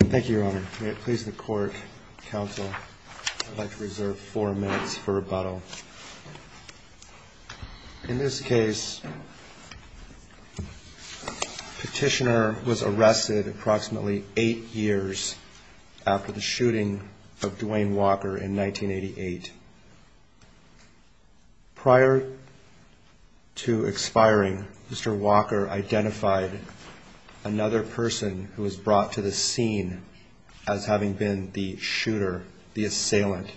Thank you, Your Honor. May it please the Court, Counsel, I'd like to reserve four minutes for rebuttal. In this case, Petitioner was arrested approximately eight years after the shooting of Dwayne Walker in 1988. Prior to expiring, Mr. Walker identified another person who was brought to the scene as having been the shooter, the assailant.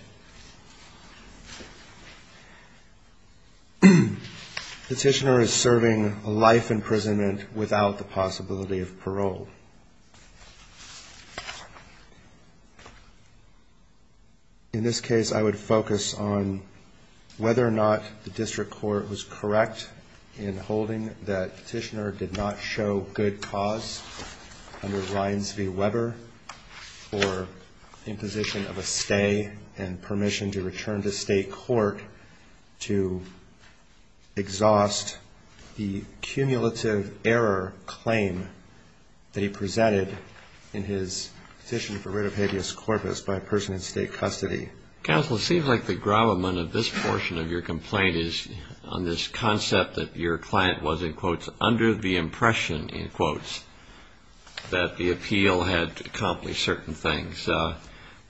Petitioner is serving life imprisonment without the possibility of parole. In this case, I would focus on whether or not the district court was correct in holding that Petitioner did not show good cause under Ryans v. Weber for imposition of a stay and permission to return to state court to exhaust the cumulative error claim that he had made. Counsel, it seems like the gravamen of this portion of your complaint is on this concept that your client was, in quotes, under the impression, in quotes, that the appeal had accomplished certain things.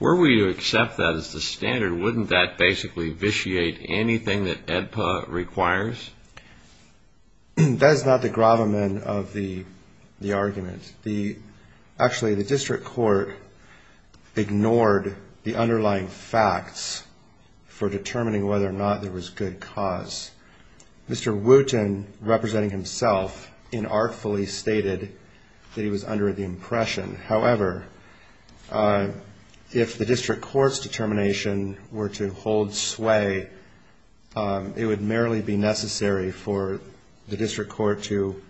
Were we to accept that as the standard, wouldn't that basically vitiate anything that AEDPA requires? That is not the gravamen of the argument. Actually, the district court ignored the underlying facts for determining whether or not there was good cause. Mr. Wooten, representing himself, inartfully stated that he was under the impression. However, if the district court's determination were to hold sway, it would merely be necessary for the district court to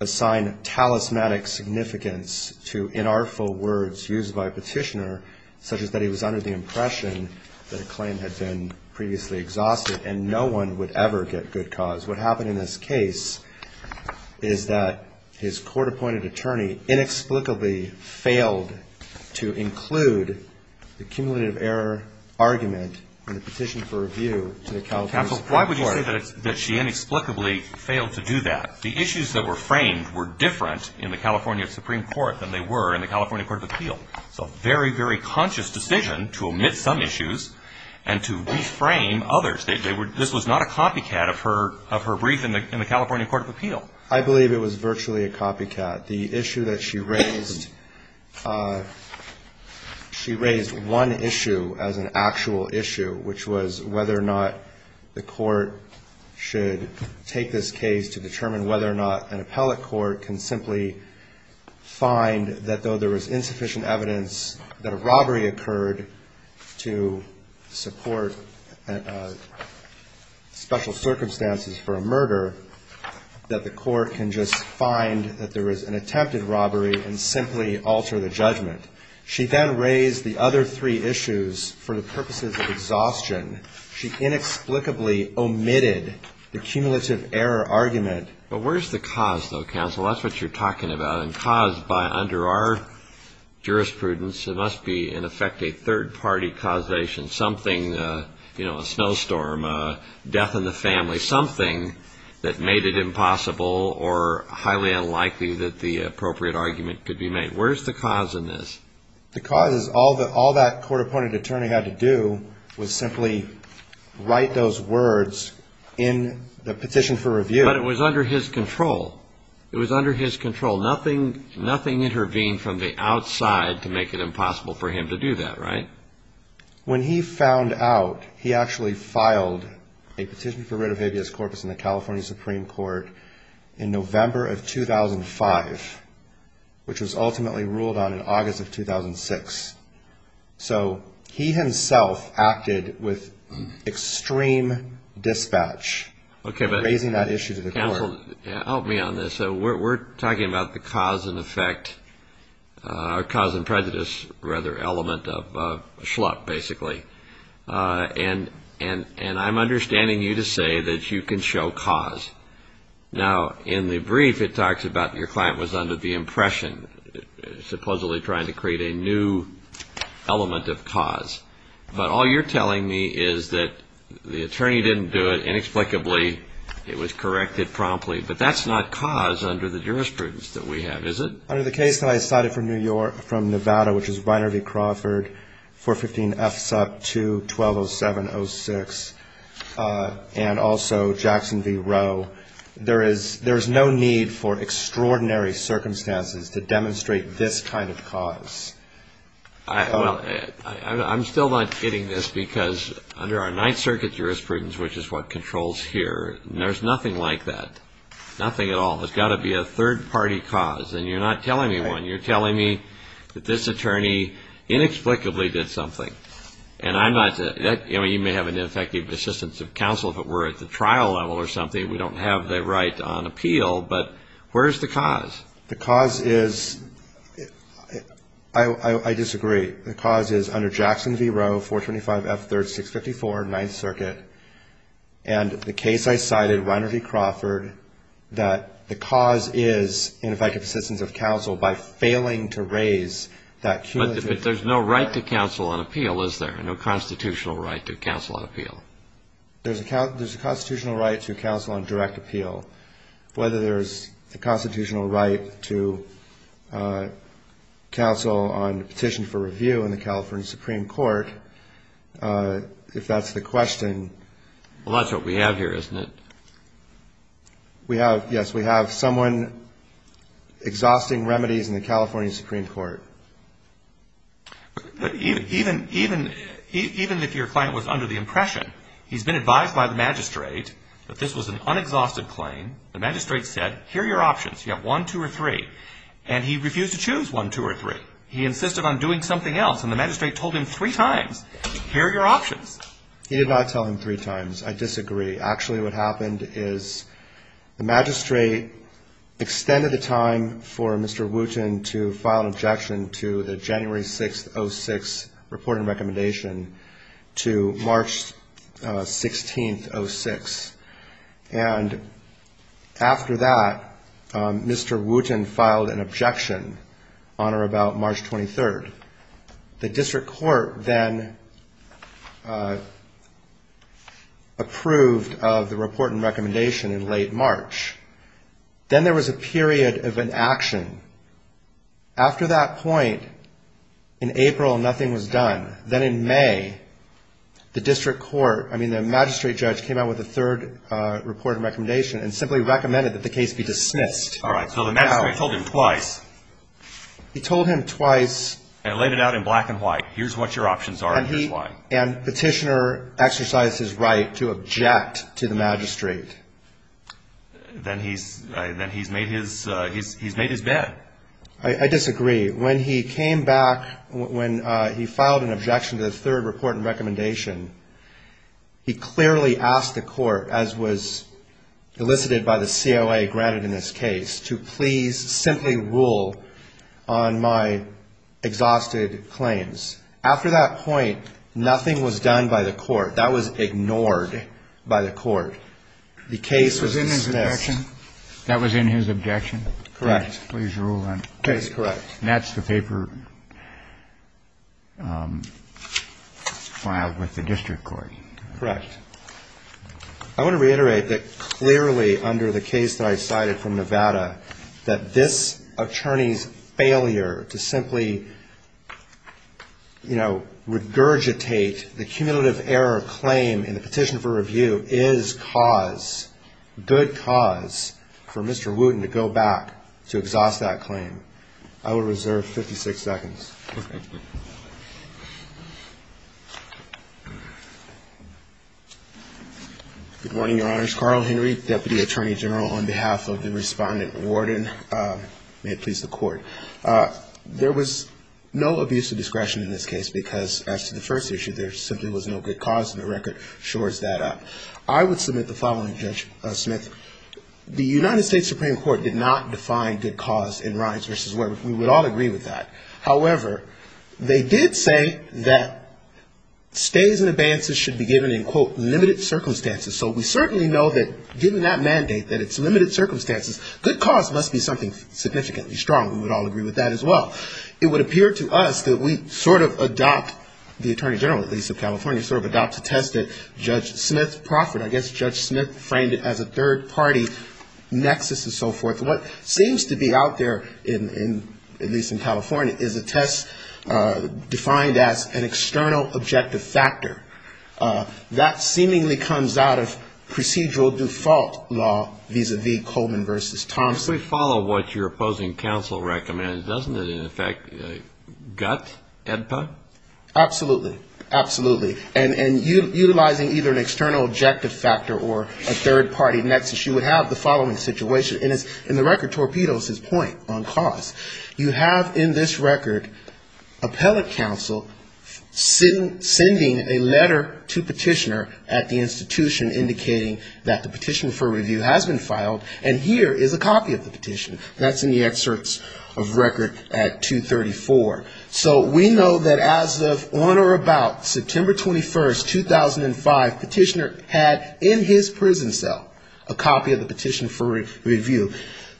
assign talismanic significance to inartful words used by Petitioner, such as that he was under the impression that a claim had been previously exhausted and no one would ever get good cause. What happened in this case is that his court-appointed attorney inexplicably failed to include the cumulative error argument in the petition for review to the California Supreme Court. Counsel, why would you say that she inexplicably failed to do that? The issues that were framed were different in the California Supreme Court than they were in the California Court of Appeal. It's a very, very conscious decision to omit some issues and to reframe others. This was not a copycat of her brief in the California Court of Appeal. I believe it was virtually a copycat. The issue that she raised, she raised one issue as an actual issue, which was whether or not the court should take this case to determine whether or not an appellate court can simply find that though there was insufficient evidence, that a robbery occurred to support special circumstances for a murder, that the court can just find that there was an attempted robbery and simply alter the judgment. She then raised the other three issues for the purposes of exhaustion. She inexplicably omitted the cumulative error argument. But where's the cause, though, counsel? That's what you're talking about. And caused by under our jurisprudence, it must be, in effect, a third-party causation, something, you know, a snowstorm, death in the family, something that made it impossible or highly unlikely that the appropriate argument could be made. Where's the cause in this? The cause is all that court-appointed attorney had to do was simply write those words in the petition for review. But it was under his control. It was under his control. Nothing intervened from the outside to make it impossible for him to do that, right? When he found out, he actually filed a petition for writ of habeas corpus in the California Supreme Court in November of 2005, which was ultimately ruled on in August of 2006. So he himself acted with extreme dispatch, raising that issue to the court. Counsel, help me on this. We're talking about the cause and effect, or cause and prejudice, rather, element of a schluck, basically. And I'm understanding you to say that you can show cause. Now, in the brief, it talks about your client was under the impression, supposedly trying to create a new element of cause. But all you're telling me is that the attorney didn't do it inexplicably. It was corrected promptly. But that's not cause under the jurisprudence that we have, is it? Under the case that I cited from New York, from Nevada, which is Reiner v. Crawford, 415 F. Suck 2, 1207-06, and also Jackson v. Roe, there is no need for extraordinary circumstances to demonstrate this kind of cause. Well, I'm still not getting this, because under our Ninth Circuit jurisprudence, which is what controls here, there's nothing like that. Nothing at all. There's got to be a third-party cause. And you're not telling me one. You're telling me that this attorney inexplicably did something. And I'm not saying that you may have an ineffective assistance of counsel if it were at the trial level or something. We don't have the right on appeal. But where's the cause? The cause is – I disagree. The cause is under Jackson v. Roe, 425 F. 3rd, 654, Ninth Circuit. And the case I cited, Reiner v. Crawford, that the cause is ineffective assistance of counsel by failing to raise that. But there's no right to counsel on appeal, is there? No constitutional right to counsel on appeal. There's a constitutional right to counsel on direct appeal. Whether there's a constitutional right to counsel on a petition for review in the California Supreme Court, if that's the question. Well, that's what we have here, isn't it? Yes, we have someone exhausting remedies in the California Supreme Court. Even if your client was under the impression, he's been advised by the magistrate that this was an unexhausted claim. The magistrate said, here are your options. You have one, two, or three. And he refused to choose one, two, or three. He insisted on doing something else. And the magistrate told him three times, here are your options. He did not tell him three times. I disagree. Actually, what happened is the magistrate extended the time for Mr. Wooten to file an objection to the January 6, 06, reporting recommendation to March 16, 06. And after that, Mr. Wooten filed an objection on or about March 23. The district court then approved of the report and recommendation in late March. Then there was a period of inaction. After that point, in April, nothing was done. Then in May, the district court, I mean, the magistrate judge came out with a third report and recommendation and simply recommended that the case be dismissed. All right. So the magistrate told him twice. He told him twice. And laid it out in black and white. Here's what your options are. And petitioner exercised his right to object to the magistrate. Then he's made his bed. I disagree. When he came back, when he filed an objection to the third report and recommendation, he clearly asked the court, as was elicited by the COA granted in this case, to please simply rule on my exhausted claims. After that point, nothing was done by the court. That was ignored by the court. The case was dismissed. That was in his objection? Correct. Case correct. And that's the paper filed with the district court. Correct. I want to reiterate that clearly under the case that I cited from Nevada, that this attorney's failure to simply, you know, regurgitate the cumulative error claim in the petition for review is cause, good cause, for Mr. Wooten to go back to exhaust that claim. I will reserve 56 seconds. Good morning, Your Honors. Carl Henry, Deputy Attorney General, on behalf of the Respondent and Warden. May it please the Court. There was no abuse of discretion in this case, because as to the first issue, there simply was no good cause, and the record shores that up. I would submit the following, Judge Smith. The United States Supreme Court did not define good cause in Rhines v. Weber. We would all agree with that. However, they did say that stays and advances should be given in, quote, limited time. Limited circumstances. So we certainly know that given that mandate, that it's limited circumstances, good cause must be something significantly strong. We would all agree with that as well. It would appear to us that we sort of adopt, the Attorney General, at least of California, sort of adopt a test that Judge Smith proffered. I guess Judge Smith framed it as a third-party nexus and so forth. What seems to be out there in, at least in California, is a test defined as an external objective factor. And it seemingly comes out of procedural default law vis-a-vis Coleman v. Thompson. If we follow what your opposing counsel recommended, doesn't it in effect gut EDPA? Absolutely. Absolutely. And utilizing either an external objective factor or a third-party nexus, you would have the following situation. And the record torpedoes his point on cause. You have in this record appellate counsel sending a letter to Petitioner at the institution indicating that the petition for review has been filed. And here is a copy of the petition. That's in the excerpts of record at 234. So we know that as of on or about September 21, 2005, Petitioner had in his prison cell a copy of the petition for review.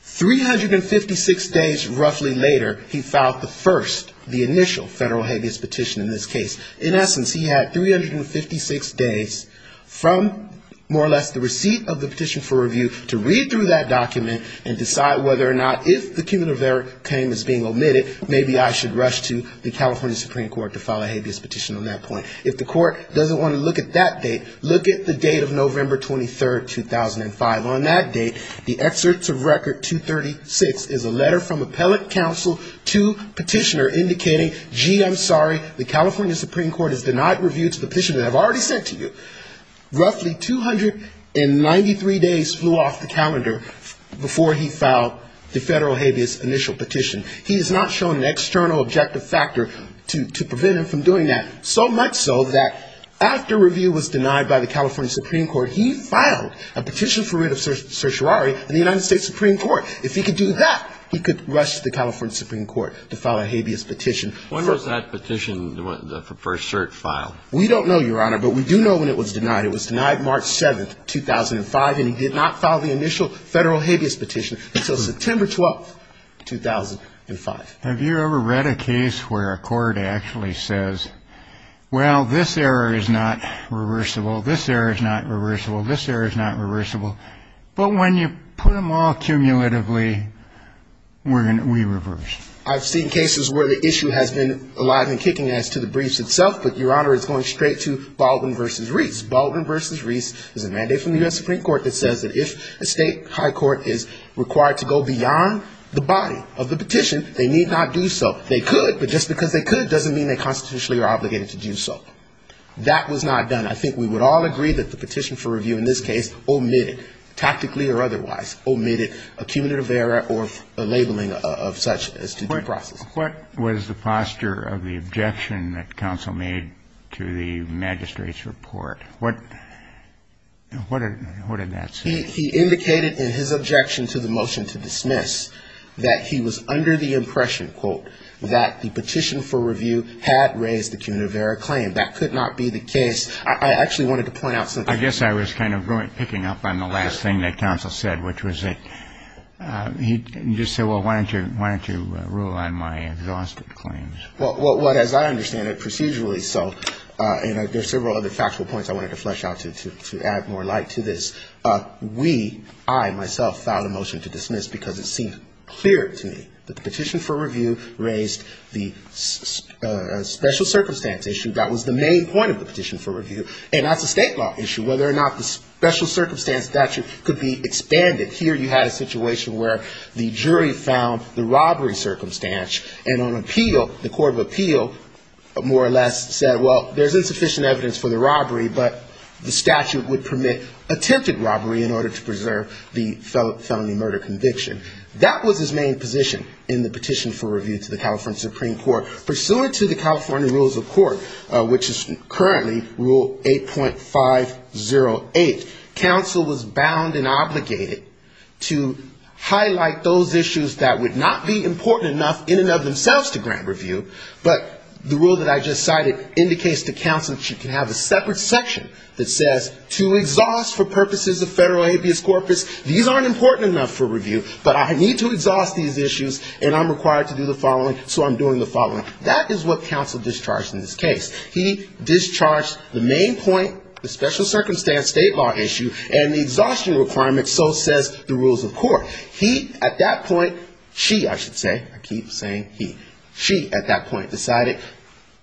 356 days roughly later, he filed the first, the initial federal habeas petition in this case. In essence, he had 356 days from more or less the receipt of the petition for review to read through that document and decide whether or not if the cumulative error claim is being omitted, maybe I should rush to the California Supreme Court to file a habeas petition on that point. If the court doesn't want to look at that date, look at the date of November 23, 2005. On that date, the excerpts of record 236 is a letter from appellate counsel to Petitioner indicating, gee, I'm sorry, the California Supreme Court has denied review to the petition that I've already sent to you. Roughly 293 days flew off the calendar before he filed the federal habeas initial petition. He has not shown an external objective factor to prevent him from doing that. So much so that after review was denied by the California Supreme Court, he filed a petition for writ of certiorari in the United States Supreme Court. If he could do that, he could rush to the California Supreme Court to file a habeas petition. When was that petition, the first cert file? We don't know, Your Honor, but we do know when it was denied. It was denied March 7, 2005, and he did not file the initial federal habeas petition until September 12, 2005. Have you ever read a case where a court actually says, well, this error is not reversible, this error is not reversible, this error is not reversible, but when you put them all cumulatively, we reverse. I've seen cases where the issue has been alive and kicking as to the briefs itself, but, Your Honor, it's going straight to Baldwin v. Reese. Baldwin v. Reese is a mandate from the U.S. Supreme Court that says that if a state high court is required to go beyond the body of the petition, they should not do so. They could, but just because they could doesn't mean they constitutionally are obligated to do so. That was not done. I think we would all agree that the petition for review in this case omitted, tactically or otherwise, omitted accumulative error or labeling of such as to due process. What was the posture of the objection that counsel made to the magistrate's report? What did that say? He indicated in his objection to the motion to dismiss that he was under the impression, quote, that the petition for review had raised the accumulative error claim. That could not be the case. I actually wanted to point out something. I guess I was kind of picking up on the last thing that counsel said, which was that he just said, well, why don't you rule on my exhausted claims? Well, as I understand it, procedurally so, and there are several other factual points I wanted to flesh out to add more light to this. We, I myself, filed a motion to dismiss because it seemed clear to me that the petition for review raised the special circumstance issue. That was the main point of the petition for review, and that's a state law issue, whether or not the special circumstance statute could be expanded. Here you had a situation where the jury found the robbery circumstance, and on appeal, the court of appeal more or less said, well, there's insufficient evidence for the robbery, but the statute would permit attempted robbery in order to preserve the felony murder conviction. That was his main position in the petition for review to the California Supreme Court. Pursuant to the California rules of court, which is currently rule 8.508, counsel was bound and obligated to highlight those issues that would not be important enough in and of themselves to grant review, but the rule that I just cited indicates that counsel should consider the issue of the federal habeas corpus. You can have a separate section that says, to exhaust for purposes of federal habeas corpus, these aren't important enough for review, but I need to exhaust these issues, and I'm required to do the following, so I'm doing the following. That is what counsel discharged in this case. He discharged the main point, the special circumstance state law issue, and the exhaustion requirement so says the rules of court. He, at that point, she, I should say, I keep saying he, she at that point decided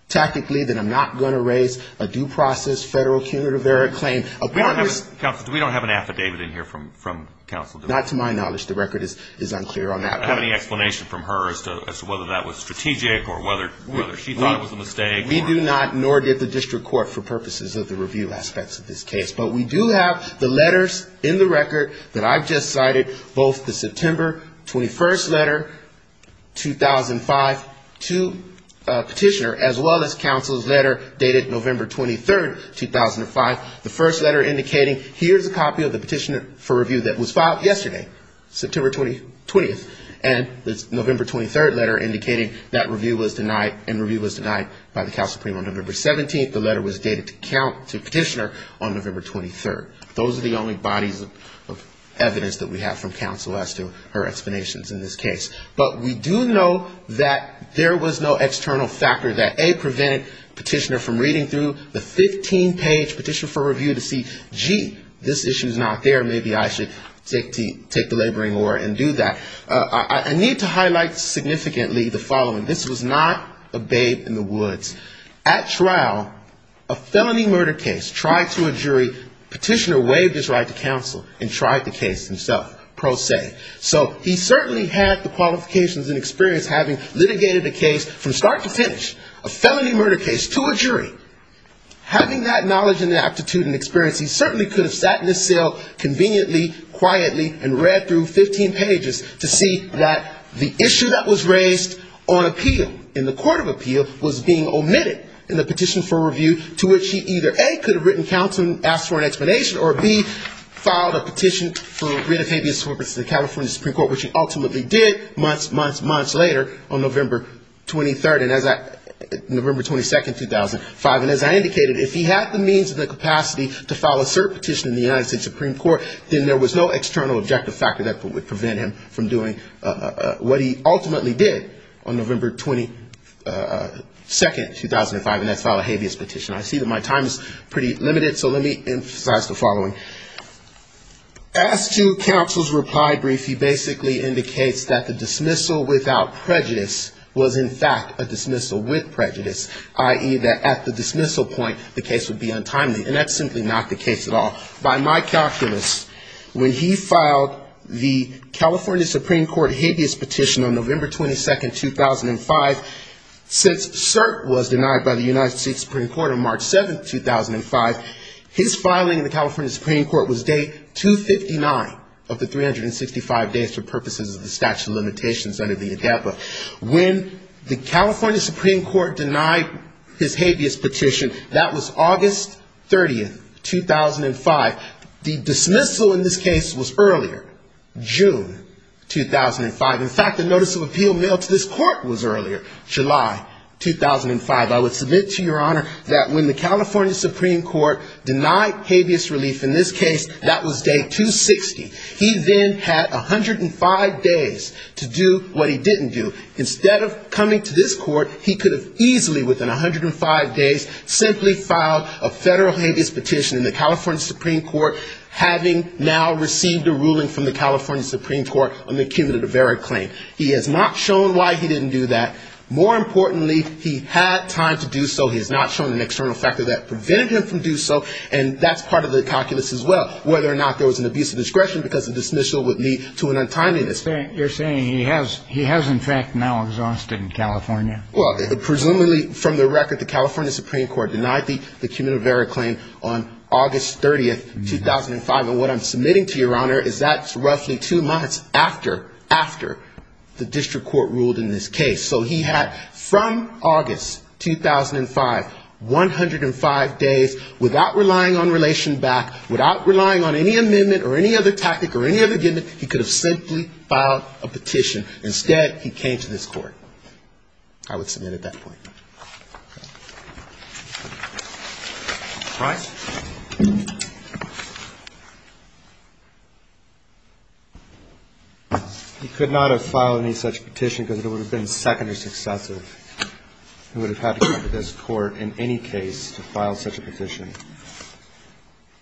tactically that I'm not going to raise a due process federal cumulative error claim. We don't have an affidavit in here from counsel, do we? Not to my knowledge. The record is unclear on that. I don't have any explanation from her as to whether that was strategic or whether she thought it was a mistake. We do not, nor did the district court, for purposes of the review aspects of this case, but we do have the letters in the record that I've just cited, September 21st letter, 2005, to petitioner, as well as counsel's letter dated November 23rd, 2005, the first letter indicating here's a copy of the petition for review that was filed yesterday, September 20th, and the November 23rd letter indicating that review was denied, and review was denied by the counsel on November 17th, the letter was dated to petitioner on November 23rd. Those are the only bodies of evidence that we have from counsel as to her explanations in this case. But we do know that there was no external factor that, A, prevented petitioner from reading through the 15-page petition for review to see, gee, this issue's not there, maybe I should take the laboring oar and do that. I need to highlight significantly the following. This was not a babe in the woods. At trial, a felony murder case tried to a jury, petitioner waived his right to counsel and tried the case himself, pro se. So he certainly had the qualifications and experience having litigated a case from start to finish, a felony murder case to a jury. Having that knowledge and aptitude and experience, he certainly could have sat in the cell conveniently, quietly, and read through 15 pages to see that the issue that was raised on appeal, in the court of appeal, was being omitted in the petition for review, to which he either, A, could have written counsel and asked for an explanation, or, B, filed a petition for writ of habeas corpus to the California Supreme Court, which he ultimately did months, months, months later on November 23rd, November 22nd, 2005. And as I indicated, if he had the means and the capacity to file a cert petition in the United States Supreme Court, then there was no external objective factor that would prevent him from doing what he ultimately did on November 22nd, 2005, and that's file a habeas petition. I see that my time is pretty limited, so let me emphasize the following. As to counsel's reply brief, he basically indicates that the dismissal without prejudice was, in fact, a dismissal with prejudice, i.e., that at the dismissal point, the case would be untimely. And that's simply not the case at all. By my calculus, when he filed the California Supreme Court habeas petition on November 22nd, 2005, since cert was denied by the United States Supreme Court on March 7th, 2005, his filing in the California Supreme Court was day 259 of the 365 days for purposes of the statute of limitations under the ADEPA. When the California Supreme Court denied his habeas petition, that was August 3rd, 2005. The dismissal in this case was earlier, June 2005. In fact, the notice of appeal mailed to this court was earlier, July 2005. I would submit to your honor that when the California Supreme Court denied habeas relief in this case, that was day 260. He then had 105 days to do what he didn't do. Instead of coming to this court, he could have easily, within 105 days, simply filed a federal habeas petition. And the California Supreme Court, having now received a ruling from the California Supreme Court on the cumulative error claim, he has not shown why he didn't do that. More importantly, he had time to do so. He has not shown an external factor that prevented him from doing so. And that's part of the calculus as well, whether or not there was an abuse of discretion because the dismissal would lead to an untimeliness. You're saying he has, in fact, now exhausted in California? Well, presumably, from the record, the California Supreme Court denied the cumulative error claim on August 30th, 2005. And what I'm submitting to your honor is that's roughly two months after, after the district court ruled in this case. So he had, from August 2005, 105 days without relying on relation back, without relying on any amendment or any other tactic or any other given, he could have simply filed a petition. Instead, he came to this court. And I would submit at that point. All right. He could not have filed any such petition because it would have been secondary successive. He would have had to come to this court in any case to file such a petition.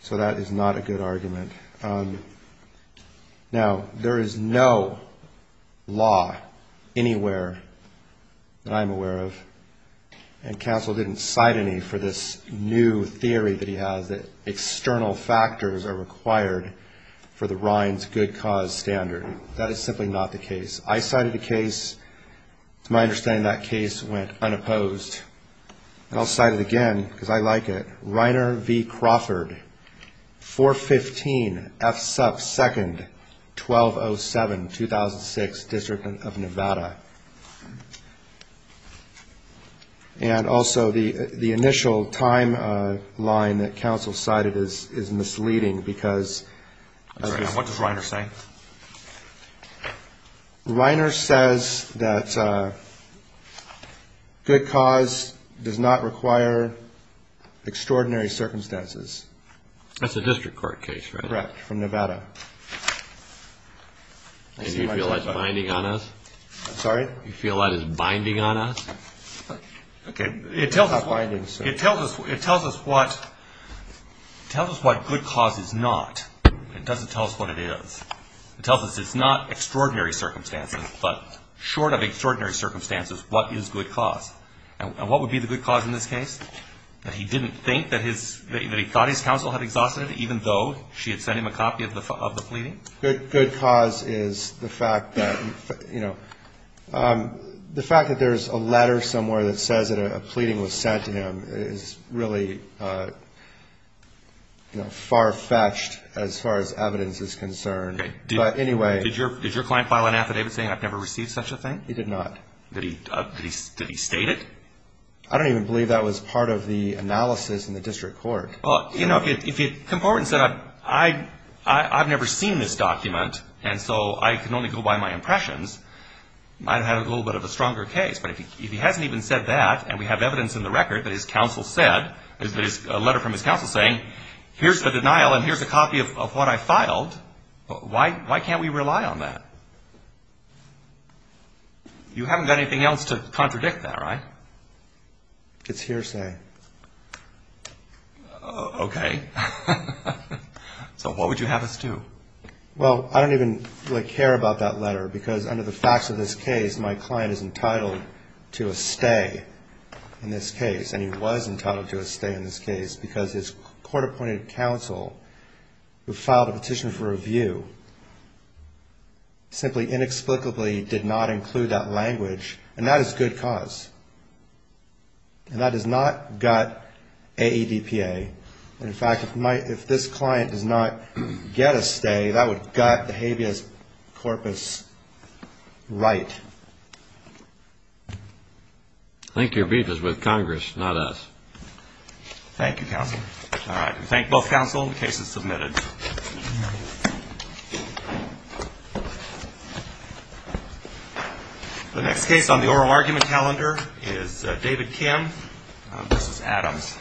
So that is not a good argument. Now, there is no law anywhere that I'm aware of. And counsel didn't cite any for this new theory that he has, that external factors are required for the Rines good cause standard. That is simply not the case. I cited a case. To my understanding, that case went unopposed. And I'll cite it again because I like it. 415 F sub second 1207 2006 district of Nevada. And also the initial time line that counsel cited is misleading because what does Reiner say? Reiner says that good cause does not require extraordinary circumstances. That's a district court case from Nevada. And you feel like binding on us? Sorry. You feel that is binding on us? It tells us what good cause is not. It doesn't tell us what it is. It tells us it's not extraordinary circumstances, but short of extraordinary circumstances, what is good cause? And what would be the good cause in this case? That he didn't think that his, that he thought his counsel had exhausted it even though she had sent him a copy of the pleading? Good cause is the fact that, you know, the fact that there's a letter somewhere that says that a pleading was sent to him is really, you know, far-fetched as far as evidence is concerned. But anyway. Did your client file an affidavit saying I've never received such a thing? He did not. Did he state it? I don't even believe that was part of the analysis in the district court. Well, you know, if he had come forward and said I've never seen this document, and so I can only go by my impressions, I'd have had a little bit of a stronger case. But if he hasn't even said that, and we have evidence in the record that his counsel said, a letter from his counsel saying here's the denial and here's a copy of what I filed, why can't we rely on that? You haven't got anything else to contradict that, right? It's hearsay. Okay. So what would you have us do? Well, I don't even care about that letter, because under the facts of this case, my client is entitled to a stay in this case. And he was entitled to a stay in this case because his court-appointed counsel who filed a petition for review simply inexplicably did not include that language, and that is good cause. And that does not gut AEDPA. And in fact, if this client does not get a stay, that would gut the habeas corpus right. I think your beef is with Congress, not us. Thank you, counsel. The next case on the oral argument calendar is David Kim v. Adams. Thank you.